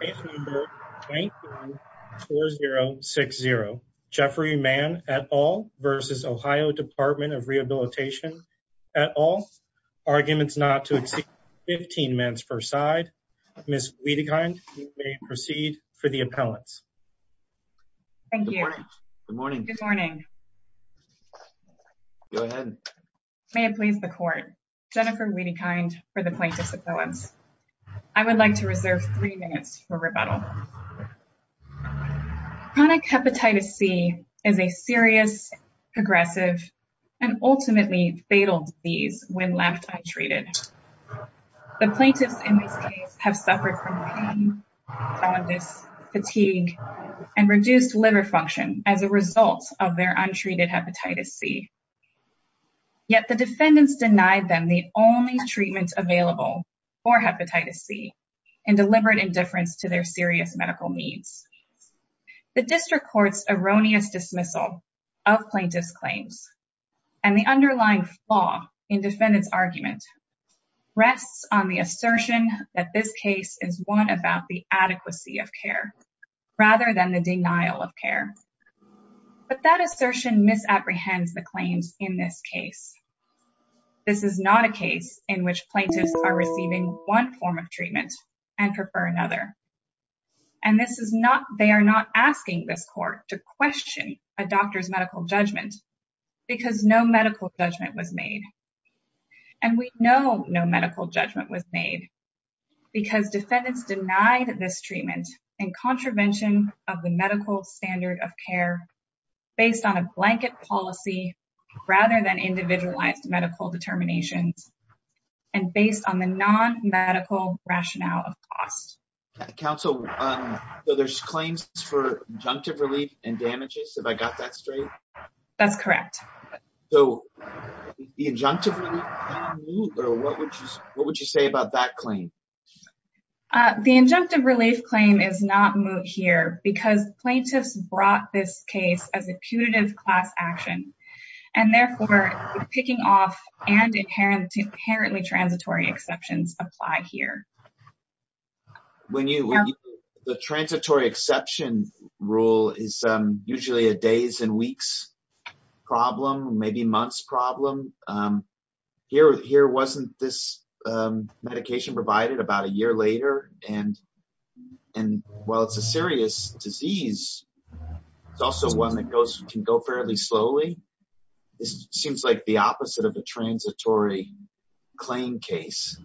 Case No. 19-4060, Jeffrey Mann, et al. v. Ohio Department of Rehabilitation, et al. Arguments not to exceed 15 minutes per side. Ms. Wiedekind, you may proceed for the appellants. Thank you. Good morning. Good morning. Go ahead. May it please the court. Jennifer Wiedekind for the plaintiff's appellants. I would like to reserve three minutes for rebuttal. Chronic hepatitis C is a serious, progressive, and ultimately fatal disease when left untreated. The plaintiffs in this case have suffered from pain, jaundice, fatigue, and reduced liver function as a result of their untreated hepatitis C. Yet the defendants denied them the only treatment available for hepatitis C and delivered indifference to their serious medical needs. The district court's erroneous dismissal of plaintiff's claims and the underlying flaw in defendant's argument rests on the assertion that this case is one about the adequacy of care rather than the denial of care. But that assertion misapprehends the claims in this case. This is not a case in which plaintiffs are receiving one form of treatment and prefer another. And this is not, they are not asking this court to question a doctor's medical judgment because no medical judgment was made. And we know no medical judgment was made because defendants denied this treatment in contravention of the medical standard of care based on a blanket policy rather than individualized medical determinations and based on the non-medical rationale of cost. Counsel, there's claims for injunctive relief and damages. Have I got that straight? That's correct. So the injunctive relief, what would you say about that claim? The injunctive relief claim is not moot here because plaintiffs brought this case as a punitive class action and therefore picking off and inherently transitory exceptions apply here. The transitory exception rule is usually a days and weeks problem, maybe months problem. Here wasn't this medication provided about a year later and while it's a serious disease, it's also one that can go fairly slowly. This seems like the opposite of a transitory claim case.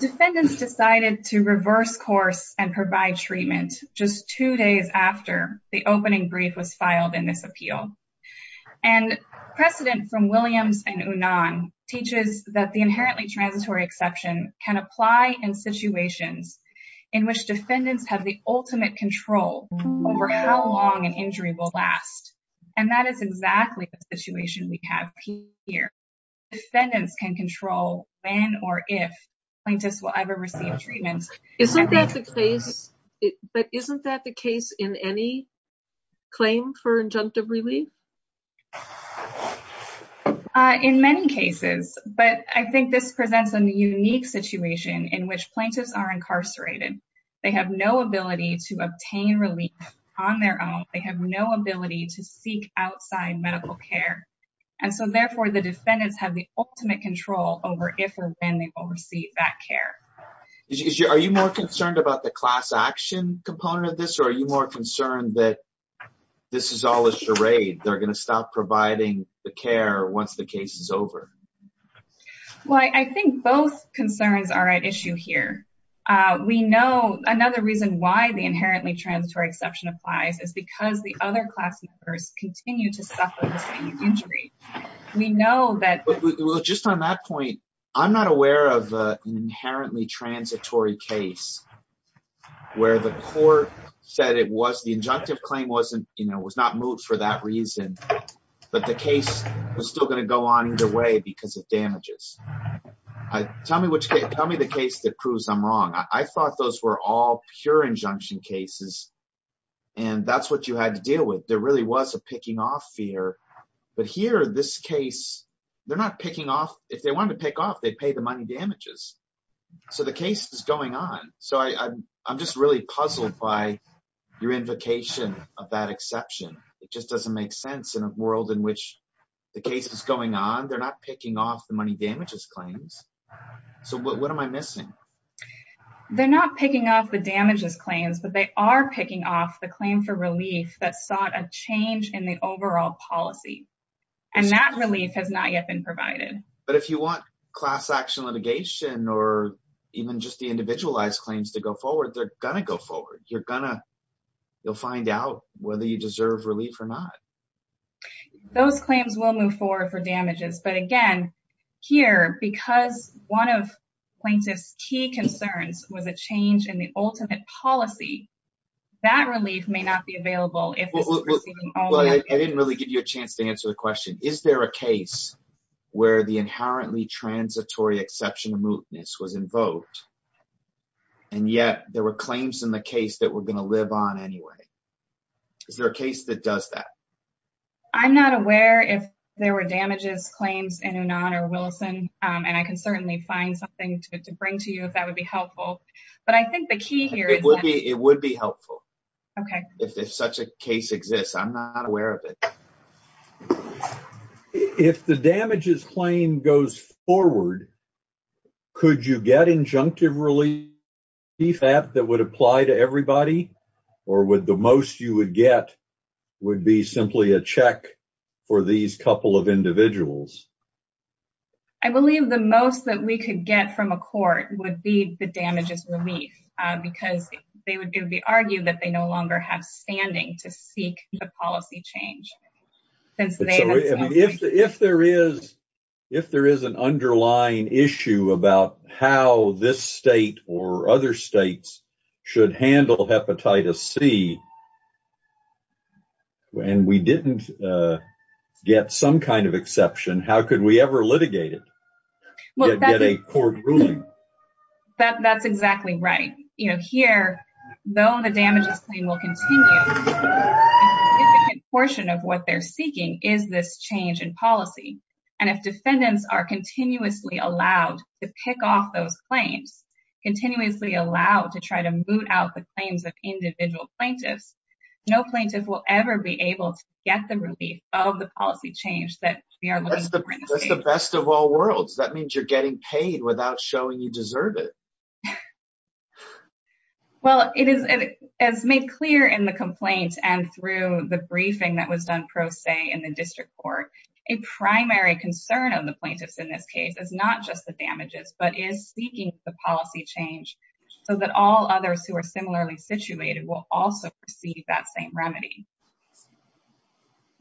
Defendants decided to reverse course and provide treatment just two days after the opening brief was filed in this appeal. And precedent from Williams and Unan teaches that the inherently transitory exception can apply in situations in which defendants have the ultimate control over how long an injury will last. And that is exactly the situation we have here. Defendants can control when or if plaintiffs will ever receive treatment. But isn't that the case in any claim for injunctive relief? In many cases, but I think this presents a unique situation in which plaintiffs are incarcerated. They have no ability to obtain relief on their own. They have no ability to seek outside medical care. And so therefore the defendants have the ultimate control over if or when they will receive that care. Are you more concerned about the class action component of this or are you more concerned that this is all a charade? They're going to stop providing the care once the case is over. Well, I think both concerns are at issue here. We know another reason why the inherently transitory exception applies is because the other class members continue to suffer the same injury. We know that just on that point, I'm not aware of an inherently transitory case where the court said it was the injunctive claim wasn't, you know, was not moved for that reason. But the case is still going to go on either way because of damages. Tell me which tell me the case that proves I'm wrong. I thought those were all pure injunction cases. And that's what you had to deal with. There really was a picking off fear. But here this case, they're not picking off. If they want to pick off, they pay the money damages. So the case is going on. So I'm just really puzzled by your invocation of that exception. It just doesn't make sense in a world in which the case is going on. They're not picking off the money damages claims. So what am I missing? They're not picking off the damages claims, but they are picking off the claim for relief that sought a change in the overall policy. And that relief has not yet been provided. But if you want class action litigation or even just the individualized claims to go forward, they're going to go forward. You're going to you'll find out whether you deserve relief or not. Those claims will move forward for damages. But again, here, because one of plaintiff's key concerns was a change in the ultimate policy. That relief may not be available. I didn't really give you a chance to answer the question. Is there a case where the inherently transitory exception of mootness was invoked? And yet there were claims in the case that we're going to live on anyway. Is there a case that does that? I'm not aware if there were damages claims in or Wilson. And I can certainly find something to bring to you if that would be helpful. But I think the key here would be it would be helpful. Okay. If such a case exists, I'm not aware of it. If the damages claim goes forward, could you get injunctive relief that that would apply to everybody? Or would the most you would get would be simply a check for these couple of individuals? I believe the most that we could get from a court would be the damages relief. Because they would argue that they no longer have standing to seek a policy change. If there is an underlying issue about how this state or other states should handle hepatitis C. And we didn't get some kind of exception. How could we ever litigate it? That's exactly right. You know, here, though, the damages claim will continue. Portion of what they're seeking is this change in policy. And if defendants are continuously allowed to pick off those claims, continuously allowed to try to moot out the claims of individual plaintiffs, no plaintiff will ever be able to get the relief of the policy change that we are looking for. That's the best of all worlds. That means you're getting paid without showing you deserve it. Well, it is as made clear in the complaint and through the briefing that was done pro se in the district court. A primary concern of the plaintiffs in this case is not just the damages, but is seeking the policy change. So that all others who are similarly situated will also receive that same remedy.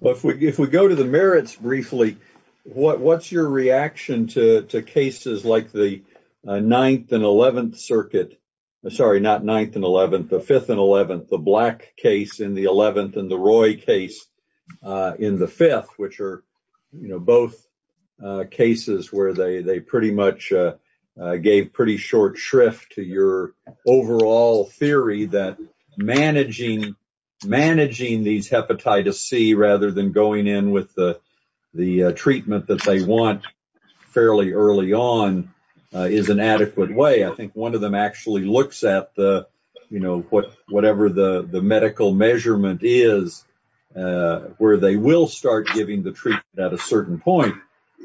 If we go to the merits briefly, what's your reaction to cases like the 9th and 11th circuit? Sorry, not 9th and 11th, the 5th and 11th, the black case in the 11th and the Roy case in the 5th, which are both cases where they pretty much gave pretty short shrift to your overall theory that managing these hepatitis C rather than going in with the treatment that they want fairly early on is an adequate way. I think one of them actually looks at the, you know, whatever the medical measurement is, where they will start giving the treatment at a certain point.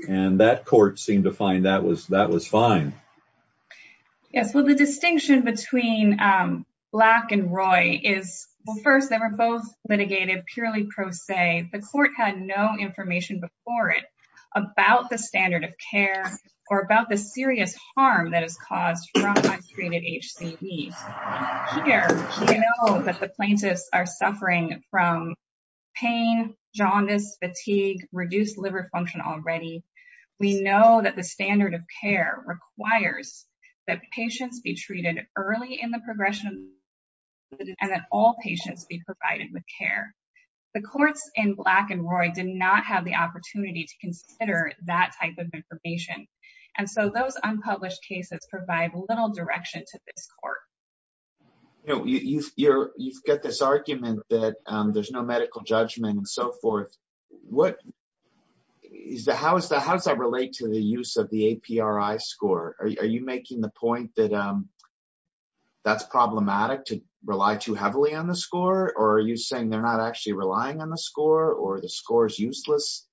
And that court seemed to find that was fine. Yes, well, the distinction between black and Roy is, well, first, they were both litigated purely pro se. Secondly, the court had no information before it about the standard of care or about the serious harm that is caused from high-strated HCE. Here, we know that the plaintiffs are suffering from pain, jaundice, fatigue, reduced liver function already. We know that the standard of care requires that patients be treated early in the progression and that all patients be provided with care. The courts in black and Roy did not have the opportunity to consider that type of information. And so those unpublished cases provide little direction to this court. You know, you've got this argument that there's no medical judgment and so forth. How does that relate to the use of the APRI score? Are you making the point that that's problematic to rely too heavily on the score? Or are you saying they're not actually relying on the score or the score is useless?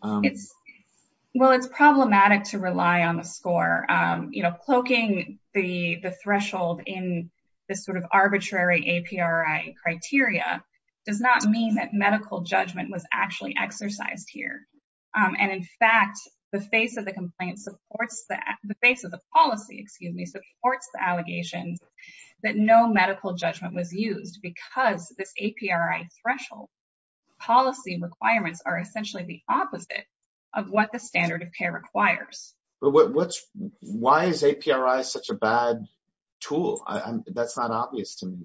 Well, it's problematic to rely on the score. You know, cloaking the threshold in this sort of arbitrary APRI criteria does not mean that medical judgment was actually exercised here. And in fact, the face of the complaint supports that the face of the policy, excuse me, supports the allegations that no medical judgment was used because this APRI threshold policy requirements are essentially the opposite of what the standard of care requires. But why is APRI such a bad tool? That's not obvious to me.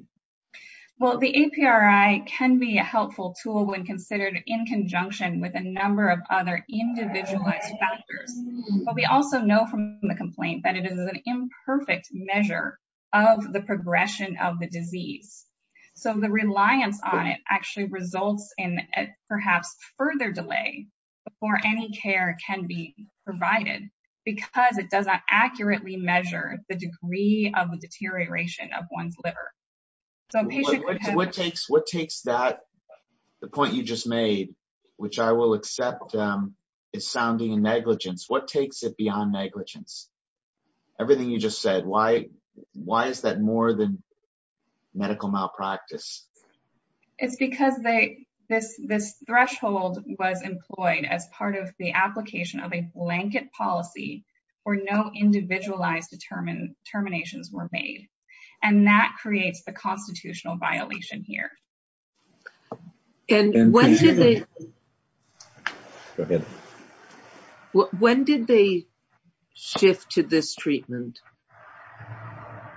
Well, the APRI can be a helpful tool when considered in conjunction with a number of other individualized factors. But we also know from the complaint that it is an imperfect measure of the progression of the disease. So the reliance on it actually results in perhaps further delay before any care can be provided because it does not accurately measure the degree of the deterioration of one's liver. What takes that, the point you just made, which I will accept is sounding negligence, what takes it beyond negligence? Everything you just said, why is that more than medical malpractice? It's because this threshold was employed as part of the application of a blanket policy where no individualized determinations were made. And that creates the constitutional violation here. When did they shift to this treatment?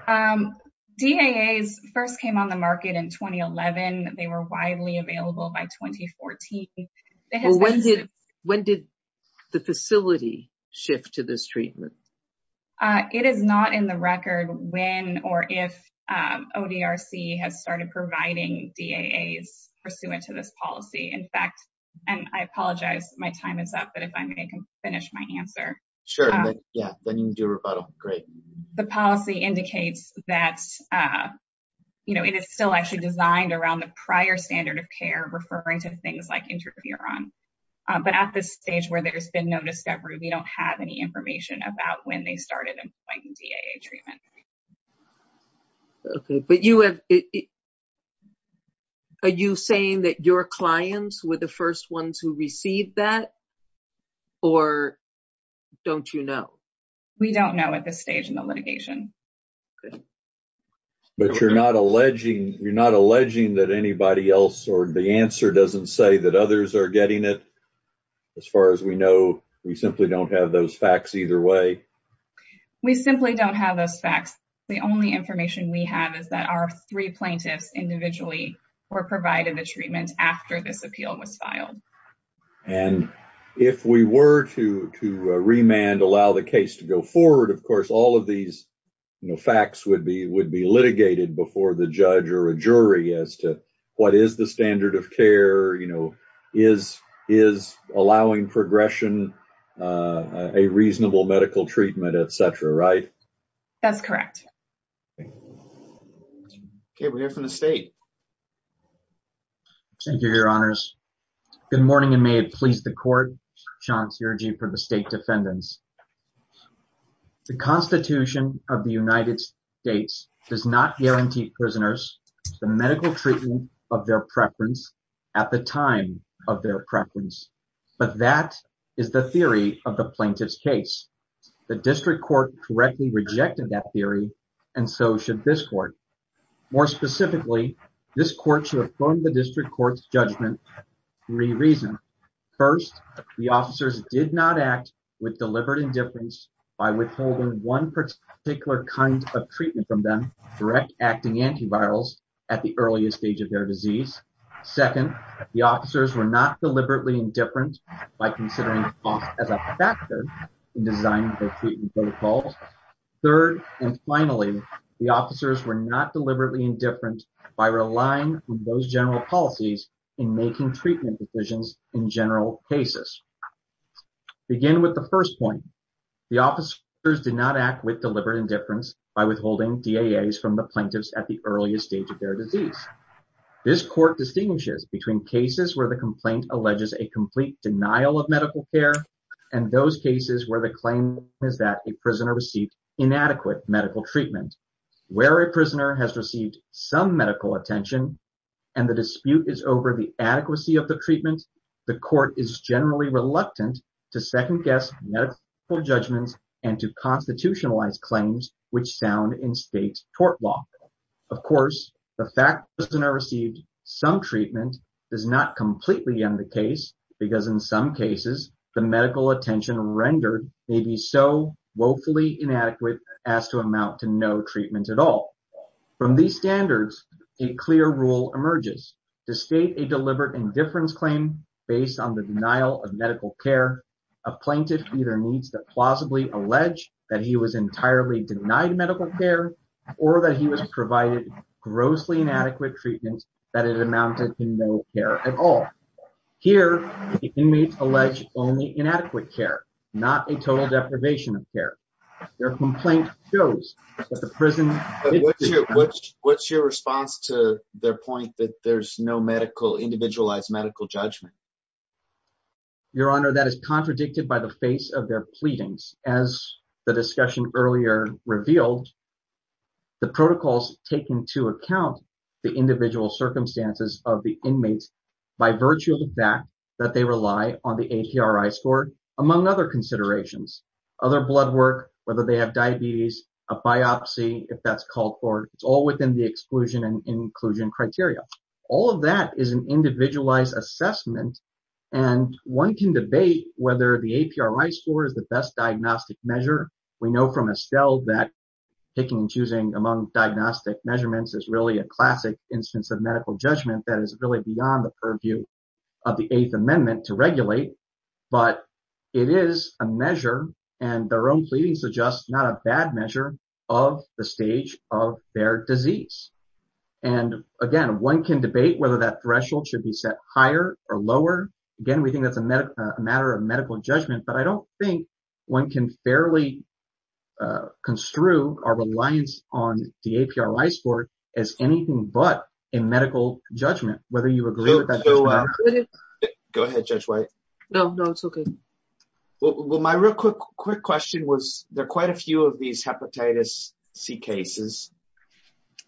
DAAs first came on the market in 2011. They were widely available by 2014. When did the facility shift to this treatment? It is not in the record when or if ODRC has started providing DAAs pursuant to this policy. In fact, and I apologize, my time is up. But if I may finish my answer. Sure. Yeah. Then you can do a rebuttal. Great. The policy indicates that, you know, it is still actually designed around the prior standard of care, referring to things like interferon. But at this stage where there's been no discovery, we don't have any information about when they started employing DAA treatment. But are you saying that your clients were the first ones who received that? Or don't you know? We don't know at this stage in the litigation. But you're not alleging that anybody else or the answer doesn't say that others are getting it? As far as we know, we simply don't have those facts either way. We simply don't have those facts. The only information we have is that our three plaintiffs individually were provided the treatment after this appeal was filed. And if we were to remand, allow the case to go forward, of course, all of these facts would be litigated before the judge or a jury as to what is the standard of care? You know, is is allowing progression a reasonable medical treatment, et cetera. Right. That's correct. OK, we're here from the state. Thank you, Your Honors. Good morning. And may it please the court. For the state defendants. The Constitution of the United States does not guarantee prisoners the medical treatment of their preference at the time of their preference. But that is the theory of the plaintiff's case. The district court correctly rejected that theory. And so should this court. More specifically, this court should affirm the district court's judgment. Three reasons. First, the officers did not act with deliberate indifference by withholding one particular kind of treatment from them. Direct acting antivirals at the earliest stage of their disease. Second, the officers were not deliberately indifferent by considering cost as a factor in designing protocols. Third, and finally, the officers were not deliberately indifferent by relying on those general policies in making treatment decisions in general cases. Begin with the first point. The officers did not act with deliberate indifference by withholding from the plaintiffs at the earliest stage of their disease. This court distinguishes between cases where the complaint alleges a complete denial of medical care. And those cases where the claim is that a prisoner received inadequate medical treatment. Where a prisoner has received some medical attention. And the dispute is over the adequacy of the treatment. The court is generally reluctant to second guess medical judgments and to constitutionalize claims, which sound in state tort law. Of course, the fact that a prisoner received some treatment does not completely end the case. Because in some cases, the medical attention rendered may be so woefully inadequate as to amount to no treatment at all. From these standards, a clear rule emerges. To state a deliberate indifference claim based on the denial of medical care, a plaintiff either needs to plausibly allege that he was entirely denied medical care or that he was provided grossly inadequate treatment that it amounted to no care at all. Here, the inmates allege only inadequate care, not a total deprivation of care. Their complaint shows that the prison. What's your response to their point that there's no medical individualized medical judgment? Your Honor, that is contradicted by the face of their pleadings. As the discussion earlier revealed. The protocols take into account the individual circumstances of the inmates by virtue of the fact that they rely on the A.P.R.I. score, among other considerations. Other blood work, whether they have diabetes, a biopsy, if that's called for. It's all within the exclusion and inclusion criteria. All of that is an individualized assessment, and one can debate whether the A.P.R.I. score is the best diagnostic measure. We know from Estelle that picking and choosing among diagnostic measurements is really a classic instance of medical judgment that is really beyond the purview of the Eighth Amendment to regulate. But it is a measure, and their own pleadings suggest, not a bad measure of the stage of their disease. And again, one can debate whether that threshold should be set higher or lower. Again, we think that's a matter of medical judgment. But I don't think one can fairly construe our reliance on the A.P.R.I. score as anything but a medical judgment, whether you agree with that. Go ahead, Judge White. No, no, it's OK. Well, my real quick question was there quite a few of these hepatitis C cases.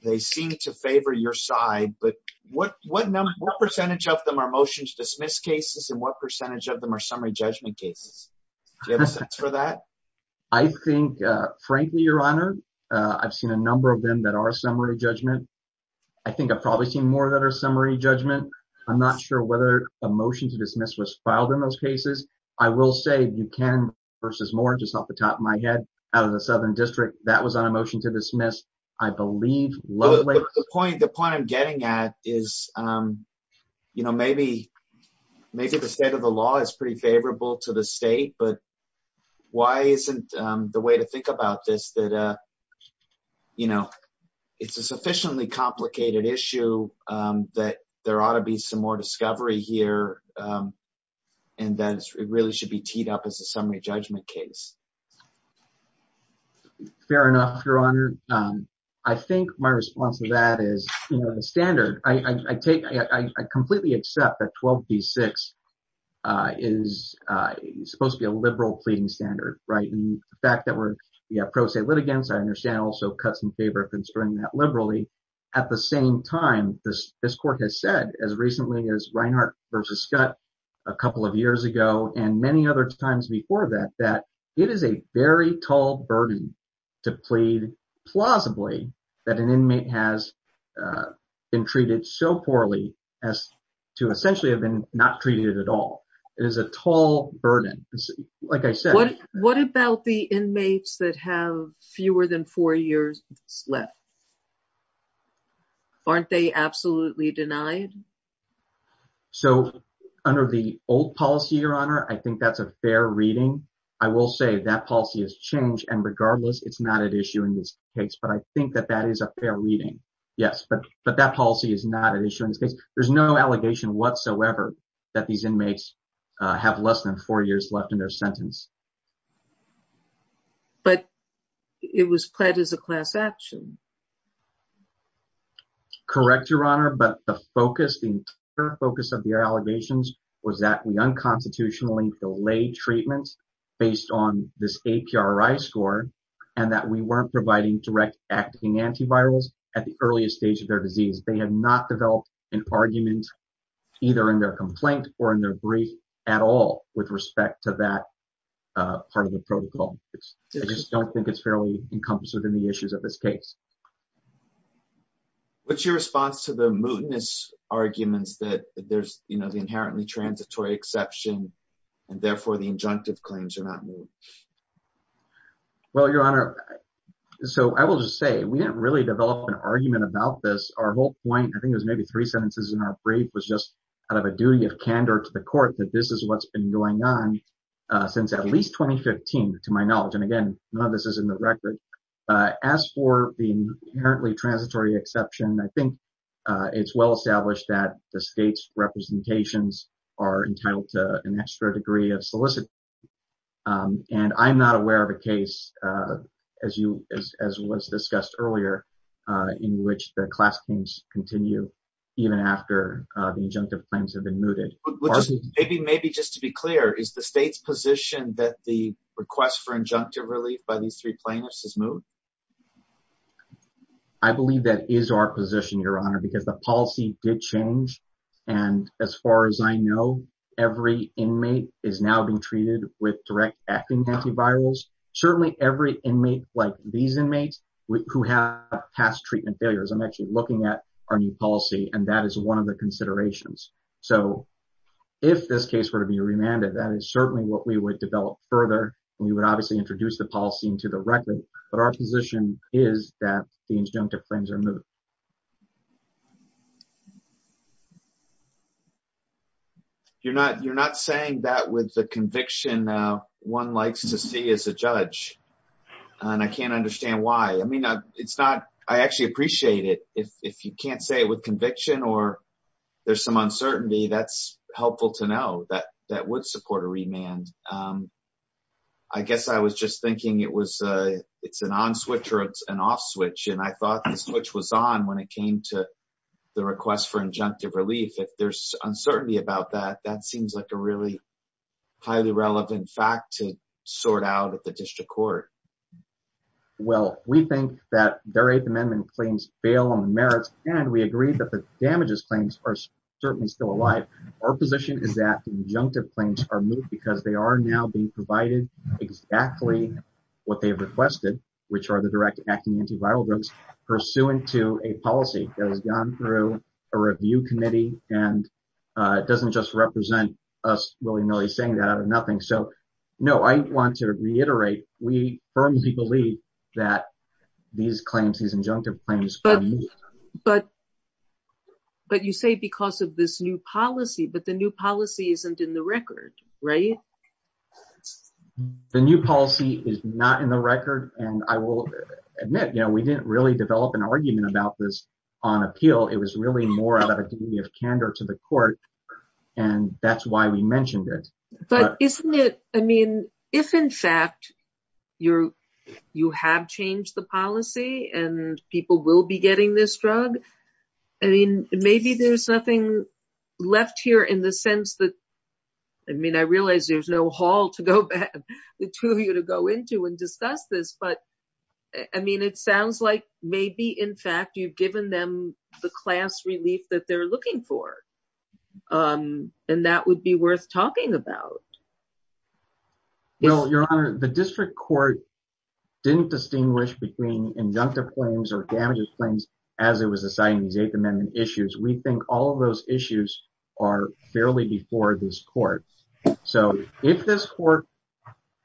They seem to favor your side. But what percentage of them are motion to dismiss cases, and what percentage of them are summary judgment cases? Do you have a sense for that? I think, frankly, Your Honor, I've seen a number of them that are summary judgment. I think I've probably seen more that are summary judgment. I'm not sure whether a motion to dismiss was filed in those cases. I will say Buchanan v. Moore, just off the top of my head, out of the Southern District, that was on a motion to dismiss, I believe. The point I'm getting at is, you know, maybe the state of the law is pretty favorable to the state. But why isn't the way to think about this that, you know, it's a sufficiently complicated issue that there ought to be some more discovery here and that it really should be teed up as a summary judgment case? Fair enough, Your Honor. I think my response to that is standard. I completely accept that 12b-6 is supposed to be a liberal pleading standard, right? The fact that we're pro se litigants, I understand, also cuts in favor of considering that liberally. At the same time, this court has said, as recently as Reinhart v. Scutt a couple of years ago and many other times before that, that it is a very tall burden to plead plausibly that an inmate has been treated so poorly as to essentially have been not treated at all. It is a tall burden. What about the inmates that have fewer than four years left? Aren't they absolutely denied? So, under the old policy, Your Honor, I think that's a fair reading. I will say that policy has changed, and regardless, it's not at issue in this case. But I think that that is a fair reading. Yes, but that policy is not at issue in this case. There's no allegation whatsoever that these inmates have less than four years left in their sentence. But it was pled as a class action. Correct, Your Honor, but the focus, the entire focus of their allegations was that we unconstitutionally delayed treatment based on this APRI score and that we weren't providing direct acting antivirals at the earliest stage of their disease. They have not developed an argument either in their complaint or in their brief at all with respect to that part of the protocol. I just don't think it's fairly encompassed within the issues of this case. What's your response to the mootness arguments that there's, you know, the inherently transitory exception, and therefore the injunctive claims are not moot? Well, Your Honor, so I will just say we didn't really develop an argument about this. Our whole point, I think it was maybe three sentences in our brief was just out of a duty of candor to the court that this is what's been going on since at least 2015, to my knowledge. And again, none of this is in the record. As for the inherently transitory exception, I think it's well established that the state's representations are entitled to an extra degree of solicitude. And I'm not aware of a case, as was discussed earlier, in which the class claims continue even after the injunctive claims have been mooted. Maybe just to be clear, is the state's position that the request for injunctive relief by these three plaintiffs is moot? I believe that is our position, Your Honor, because the policy did change. And as far as I know, every inmate is now being treated with direct acting antivirals. Certainly every inmate, like these inmates who have past treatment failures, I'm actually looking at our new policy, and that is one of the considerations. So if this case were to be remanded, that is certainly what we would develop further. We would obviously introduce the policy into the record, but our position is that the injunctive claims are moot. You're not saying that with the conviction one likes to see as a judge, and I can't understand why. I mean, it's not – I actually appreciate it. If you can't say it with conviction or there's some uncertainty, that's helpful to know that that would support a remand. I guess I was just thinking it's an on switch or it's an off switch, and I thought the switch was on when it came to the request for injunctive relief. If there's uncertainty about that, that seems like a really highly relevant fact to sort out at the district court. Well, we think that their Eighth Amendment claims bail on the merits, and we agree that the damages claims are certainly still alive. Our position is that the injunctive claims are moot because they are now being provided exactly what they have requested, which are the direct acting antiviral drugs pursuant to a policy that has gone through a review committee, and it doesn't just represent us willy-nilly saying that out of nothing. So, no, I want to reiterate we firmly believe that these claims, these injunctive claims are moot. But you say because of this new policy, but the new policy isn't in the record, right? The new policy is not in the record, and I will admit we didn't really develop an argument about this on appeal. It was really more out of a degree of candor to the court, and that's why we mentioned it. But isn't it, I mean, if in fact you have changed the policy and people will be getting this drug, I mean, maybe there's nothing left here in the sense that, I mean, I realize there's no hall to go back to you to go into and discuss this, but, I mean, it sounds like maybe in fact you've given them the class relief that they're looking for, and that would be worth talking about. Well, Your Honor, the district court didn't distinguish between injunctive claims or damages claims as it was deciding these Eighth Amendment issues. We think all of those issues are fairly before this court. So, if this court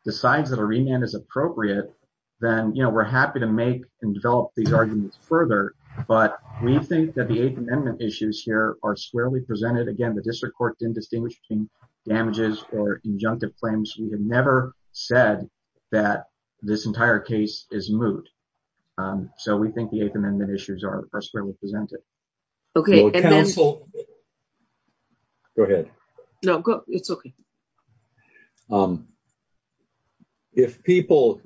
decides that a remand is appropriate, then, you know, we're happy to make and develop these arguments further, but we think that the Eighth Amendment issues here are squarely presented. Again, the district court didn't distinguish between damages or injunctive claims. We have never said that this entire case is moot. So, we think the Eighth Amendment issues are squarely presented. Okay. Go ahead. No, it's okay. If people,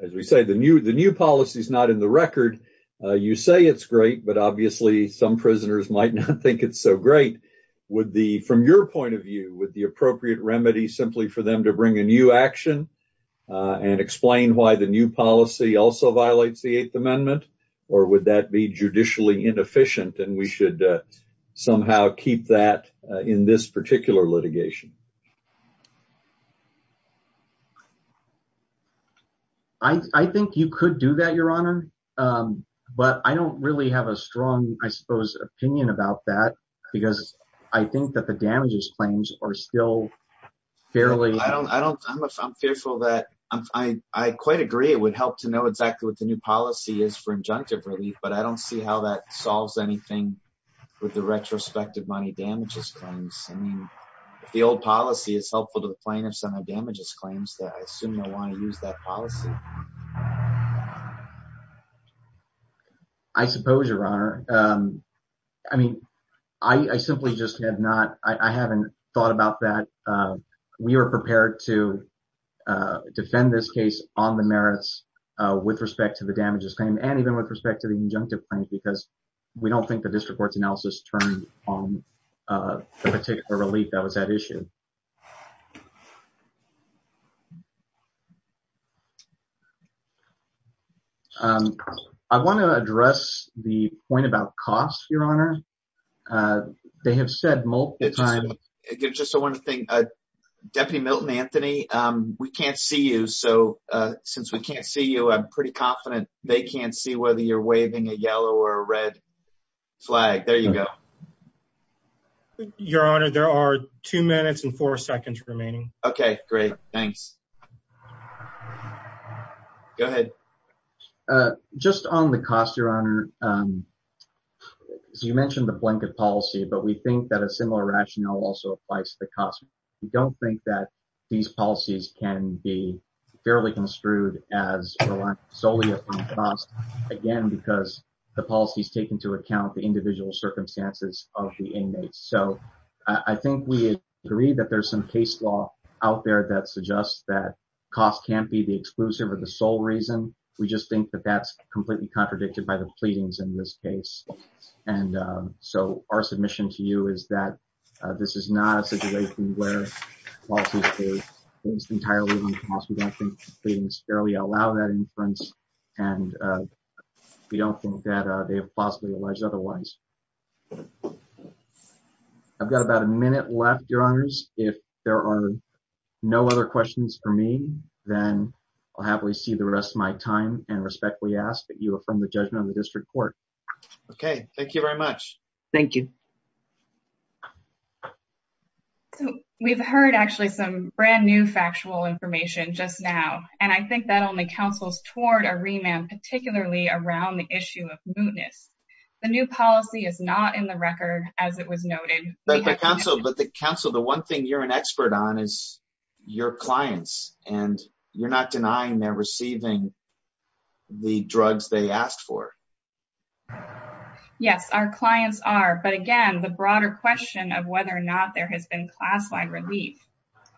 as we say, the new policy is not in the record. You say it's great, but obviously some prisoners might not think it's so great. Would the, from your point of view, would the appropriate remedy simply for them to bring a new action and explain why the new policy also violates the Eighth Amendment, or would that be judicially inefficient and we should somehow keep that in this particular litigation? I think you could do that, Your Honor, but I don't really have a strong, I suppose, opinion about that because I think that the damages claims are still fairly… I don't, I don't, I'm fearful that, I quite agree it would help to know exactly what the new policy is for injunctive relief, but I don't see how that solves anything with the retrospective money damages claims. I mean, if the old policy is helpful to the plaintiffs on the damages claims, then I assume they'll want to use that policy. I suppose, Your Honor. I mean, I simply just have not, I haven't thought about that. We are prepared to defend this case on the merits with respect to the damages claim, and even with respect to the injunctive claims, because we don't think the district court's analysis turned on the particular relief that was at issue. I want to address the point about costs, Your Honor. They have said multiple times… Deputy Milton Anthony, we can't see you, so since we can't see you, I'm pretty confident they can't see whether you're waving a yellow or red flag. There you go. Your Honor, there are two minutes and four seconds remaining. Okay, great. Thanks. Go ahead. Just on the cost, Your Honor, you mentioned the blanket policy, but we think that a similar rationale also applies to the cost. We don't think that these policies can be fairly construed as solely upon cost, again, because the policies take into account the individual circumstances of the inmates. So, I think we agree that there's some case law out there that suggests that cost can't be the exclusive or the sole reason. We just think that that's completely contradicted by the pleadings in this case. And so, our submission to you is that this is not a situation where policies are based entirely on cost. We don't think the pleadings fairly allow that inference, and we don't think that they have possibly alleged otherwise. I've got about a minute left, Your Honors. If there are no other questions for me, then I'll happily see the rest of my time and respectfully ask that you affirm the judgment of the district court. Okay, thank you very much. Thank you. We've heard actually some brand new factual information just now, and I think that only counsels toward a remand, particularly around the issue of mootness. The new policy is not in the record, as it was noted. But the counsel, the one thing you're an expert on is your clients, and you're not denying they're receiving the drugs they asked for. Yes, our clients are. But again, the broader question of whether or not there has been class-wide relief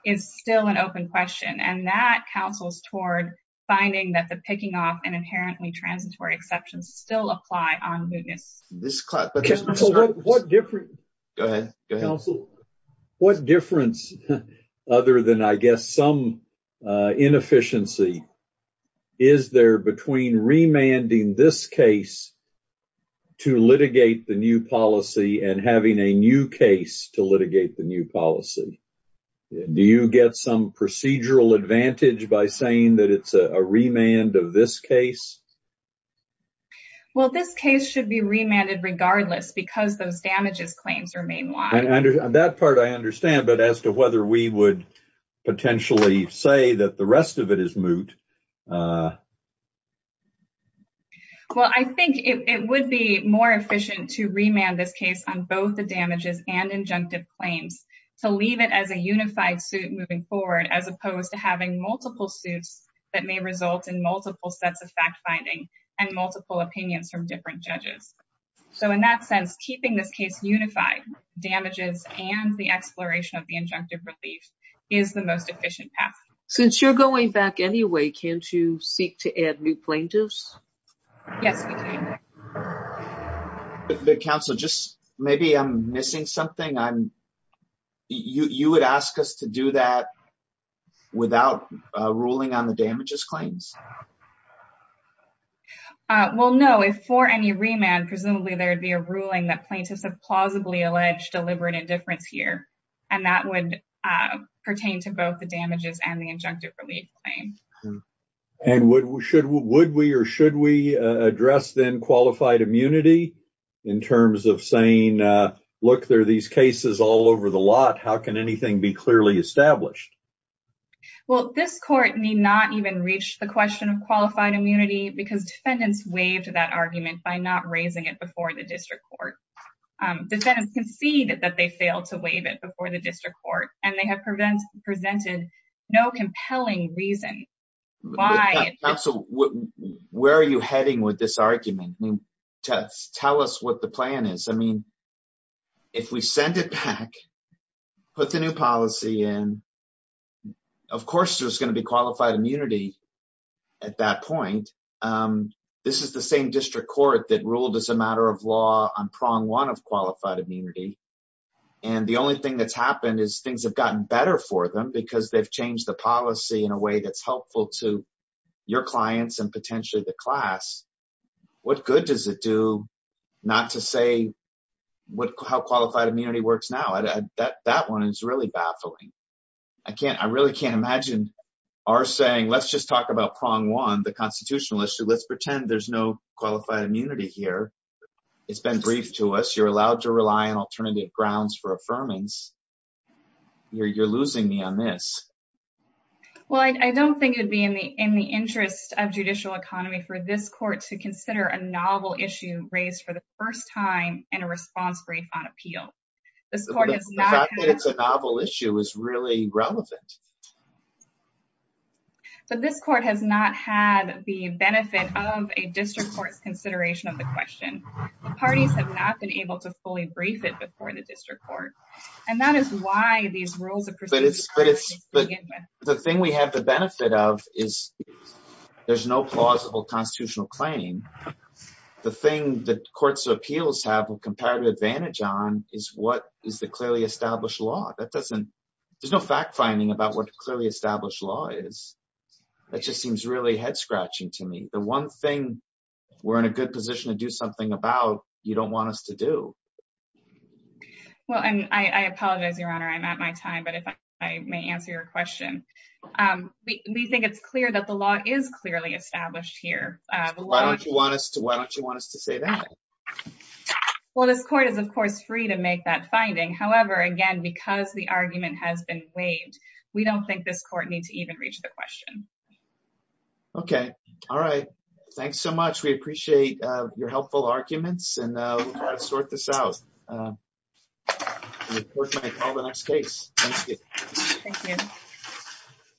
is still an open question, and that counsels toward finding that the picking off and inherently transitory exceptions still apply on mootness. Counsel, what difference, other than I guess some inefficiency, is there between remanding this case to litigate the new policy and having a new case to litigate the new policy? Do you get some procedural advantage by saying that it's a remand of this case? Well, this case should be remanded regardless because those damages claims remain wide. On that part, I understand. But as to whether we would potentially say that the rest of it is moot? Well, I think it would be more efficient to remand this case on both the damages and injunctive claims to leave it as a unified suit moving forward, as opposed to having multiple suits that may result in multiple sets of fact-finding and multiple opinions from different judges. So in that sense, keeping this case unified, damages and the exploration of the injunctive relief, is the most efficient path. Since you're going back anyway, can't you seek to add new plaintiffs? Yes, we can. Counsel, just maybe I'm missing something. You would ask us to do that without ruling on the damages claims? Well, no. If for any remand, presumably there would be a ruling that plaintiffs have plausibly alleged deliberate indifference here. And that would pertain to both the damages and the injunctive relief claim. And would we or should we address then qualified immunity in terms of saying, look, there are these cases all over the lot. How can anything be clearly established? Well, this court may not even reach the question of qualified immunity because defendants waived that argument by not raising it before the district court. Defendants concede that they failed to waive it before the district court and they have presented no compelling reason why. Counsel, where are you heading with this argument? Tell us what the plan is. If we send it back, put the new policy in, of course, there's going to be qualified immunity at that point. This is the same district court that ruled as a matter of law on prong one of qualified immunity. And the only thing that's happened is things have gotten better for them because they've changed the policy in a way that's helpful to your clients and potentially the class. What good does it do not to say how qualified immunity works now? That one is really baffling. I can't I really can't imagine are saying let's just talk about prong one, the constitutional issue. Let's pretend there's no qualified immunity here. It's been briefed to us. You're allowed to rely on alternative grounds for affirmance. You're losing me on this. Well, I don't think it would be in the in the interest of judicial economy for this court to consider a novel issue raised for the first time in a response brief on appeal. The fact that it's a novel issue is really relevant. But this court has not had the benefit of a district court's consideration of the question. The parties have not been able to fully brief it before the district court. And that is why these rules of the thing we have the benefit of is there's no plausible constitutional claim. The thing that courts of appeals have a comparative advantage on is what is the clearly established law that doesn't there's no fact finding about what clearly established law is. That just seems really head scratching to me. The one thing we're in a good position to do something about. You don't want us to do well. And I apologize, Your Honor. I'm at my time. But if I may answer your question, we think it's clear that the law is clearly established here. Why don't you want us to why don't you want us to say that? Well, this court is, of course, free to make that finding. However, again, because the argument has been waived, we don't think this court needs to even reach the question. OK. All right. Thanks so much. We appreciate your helpful arguments and sort this out. All the next case.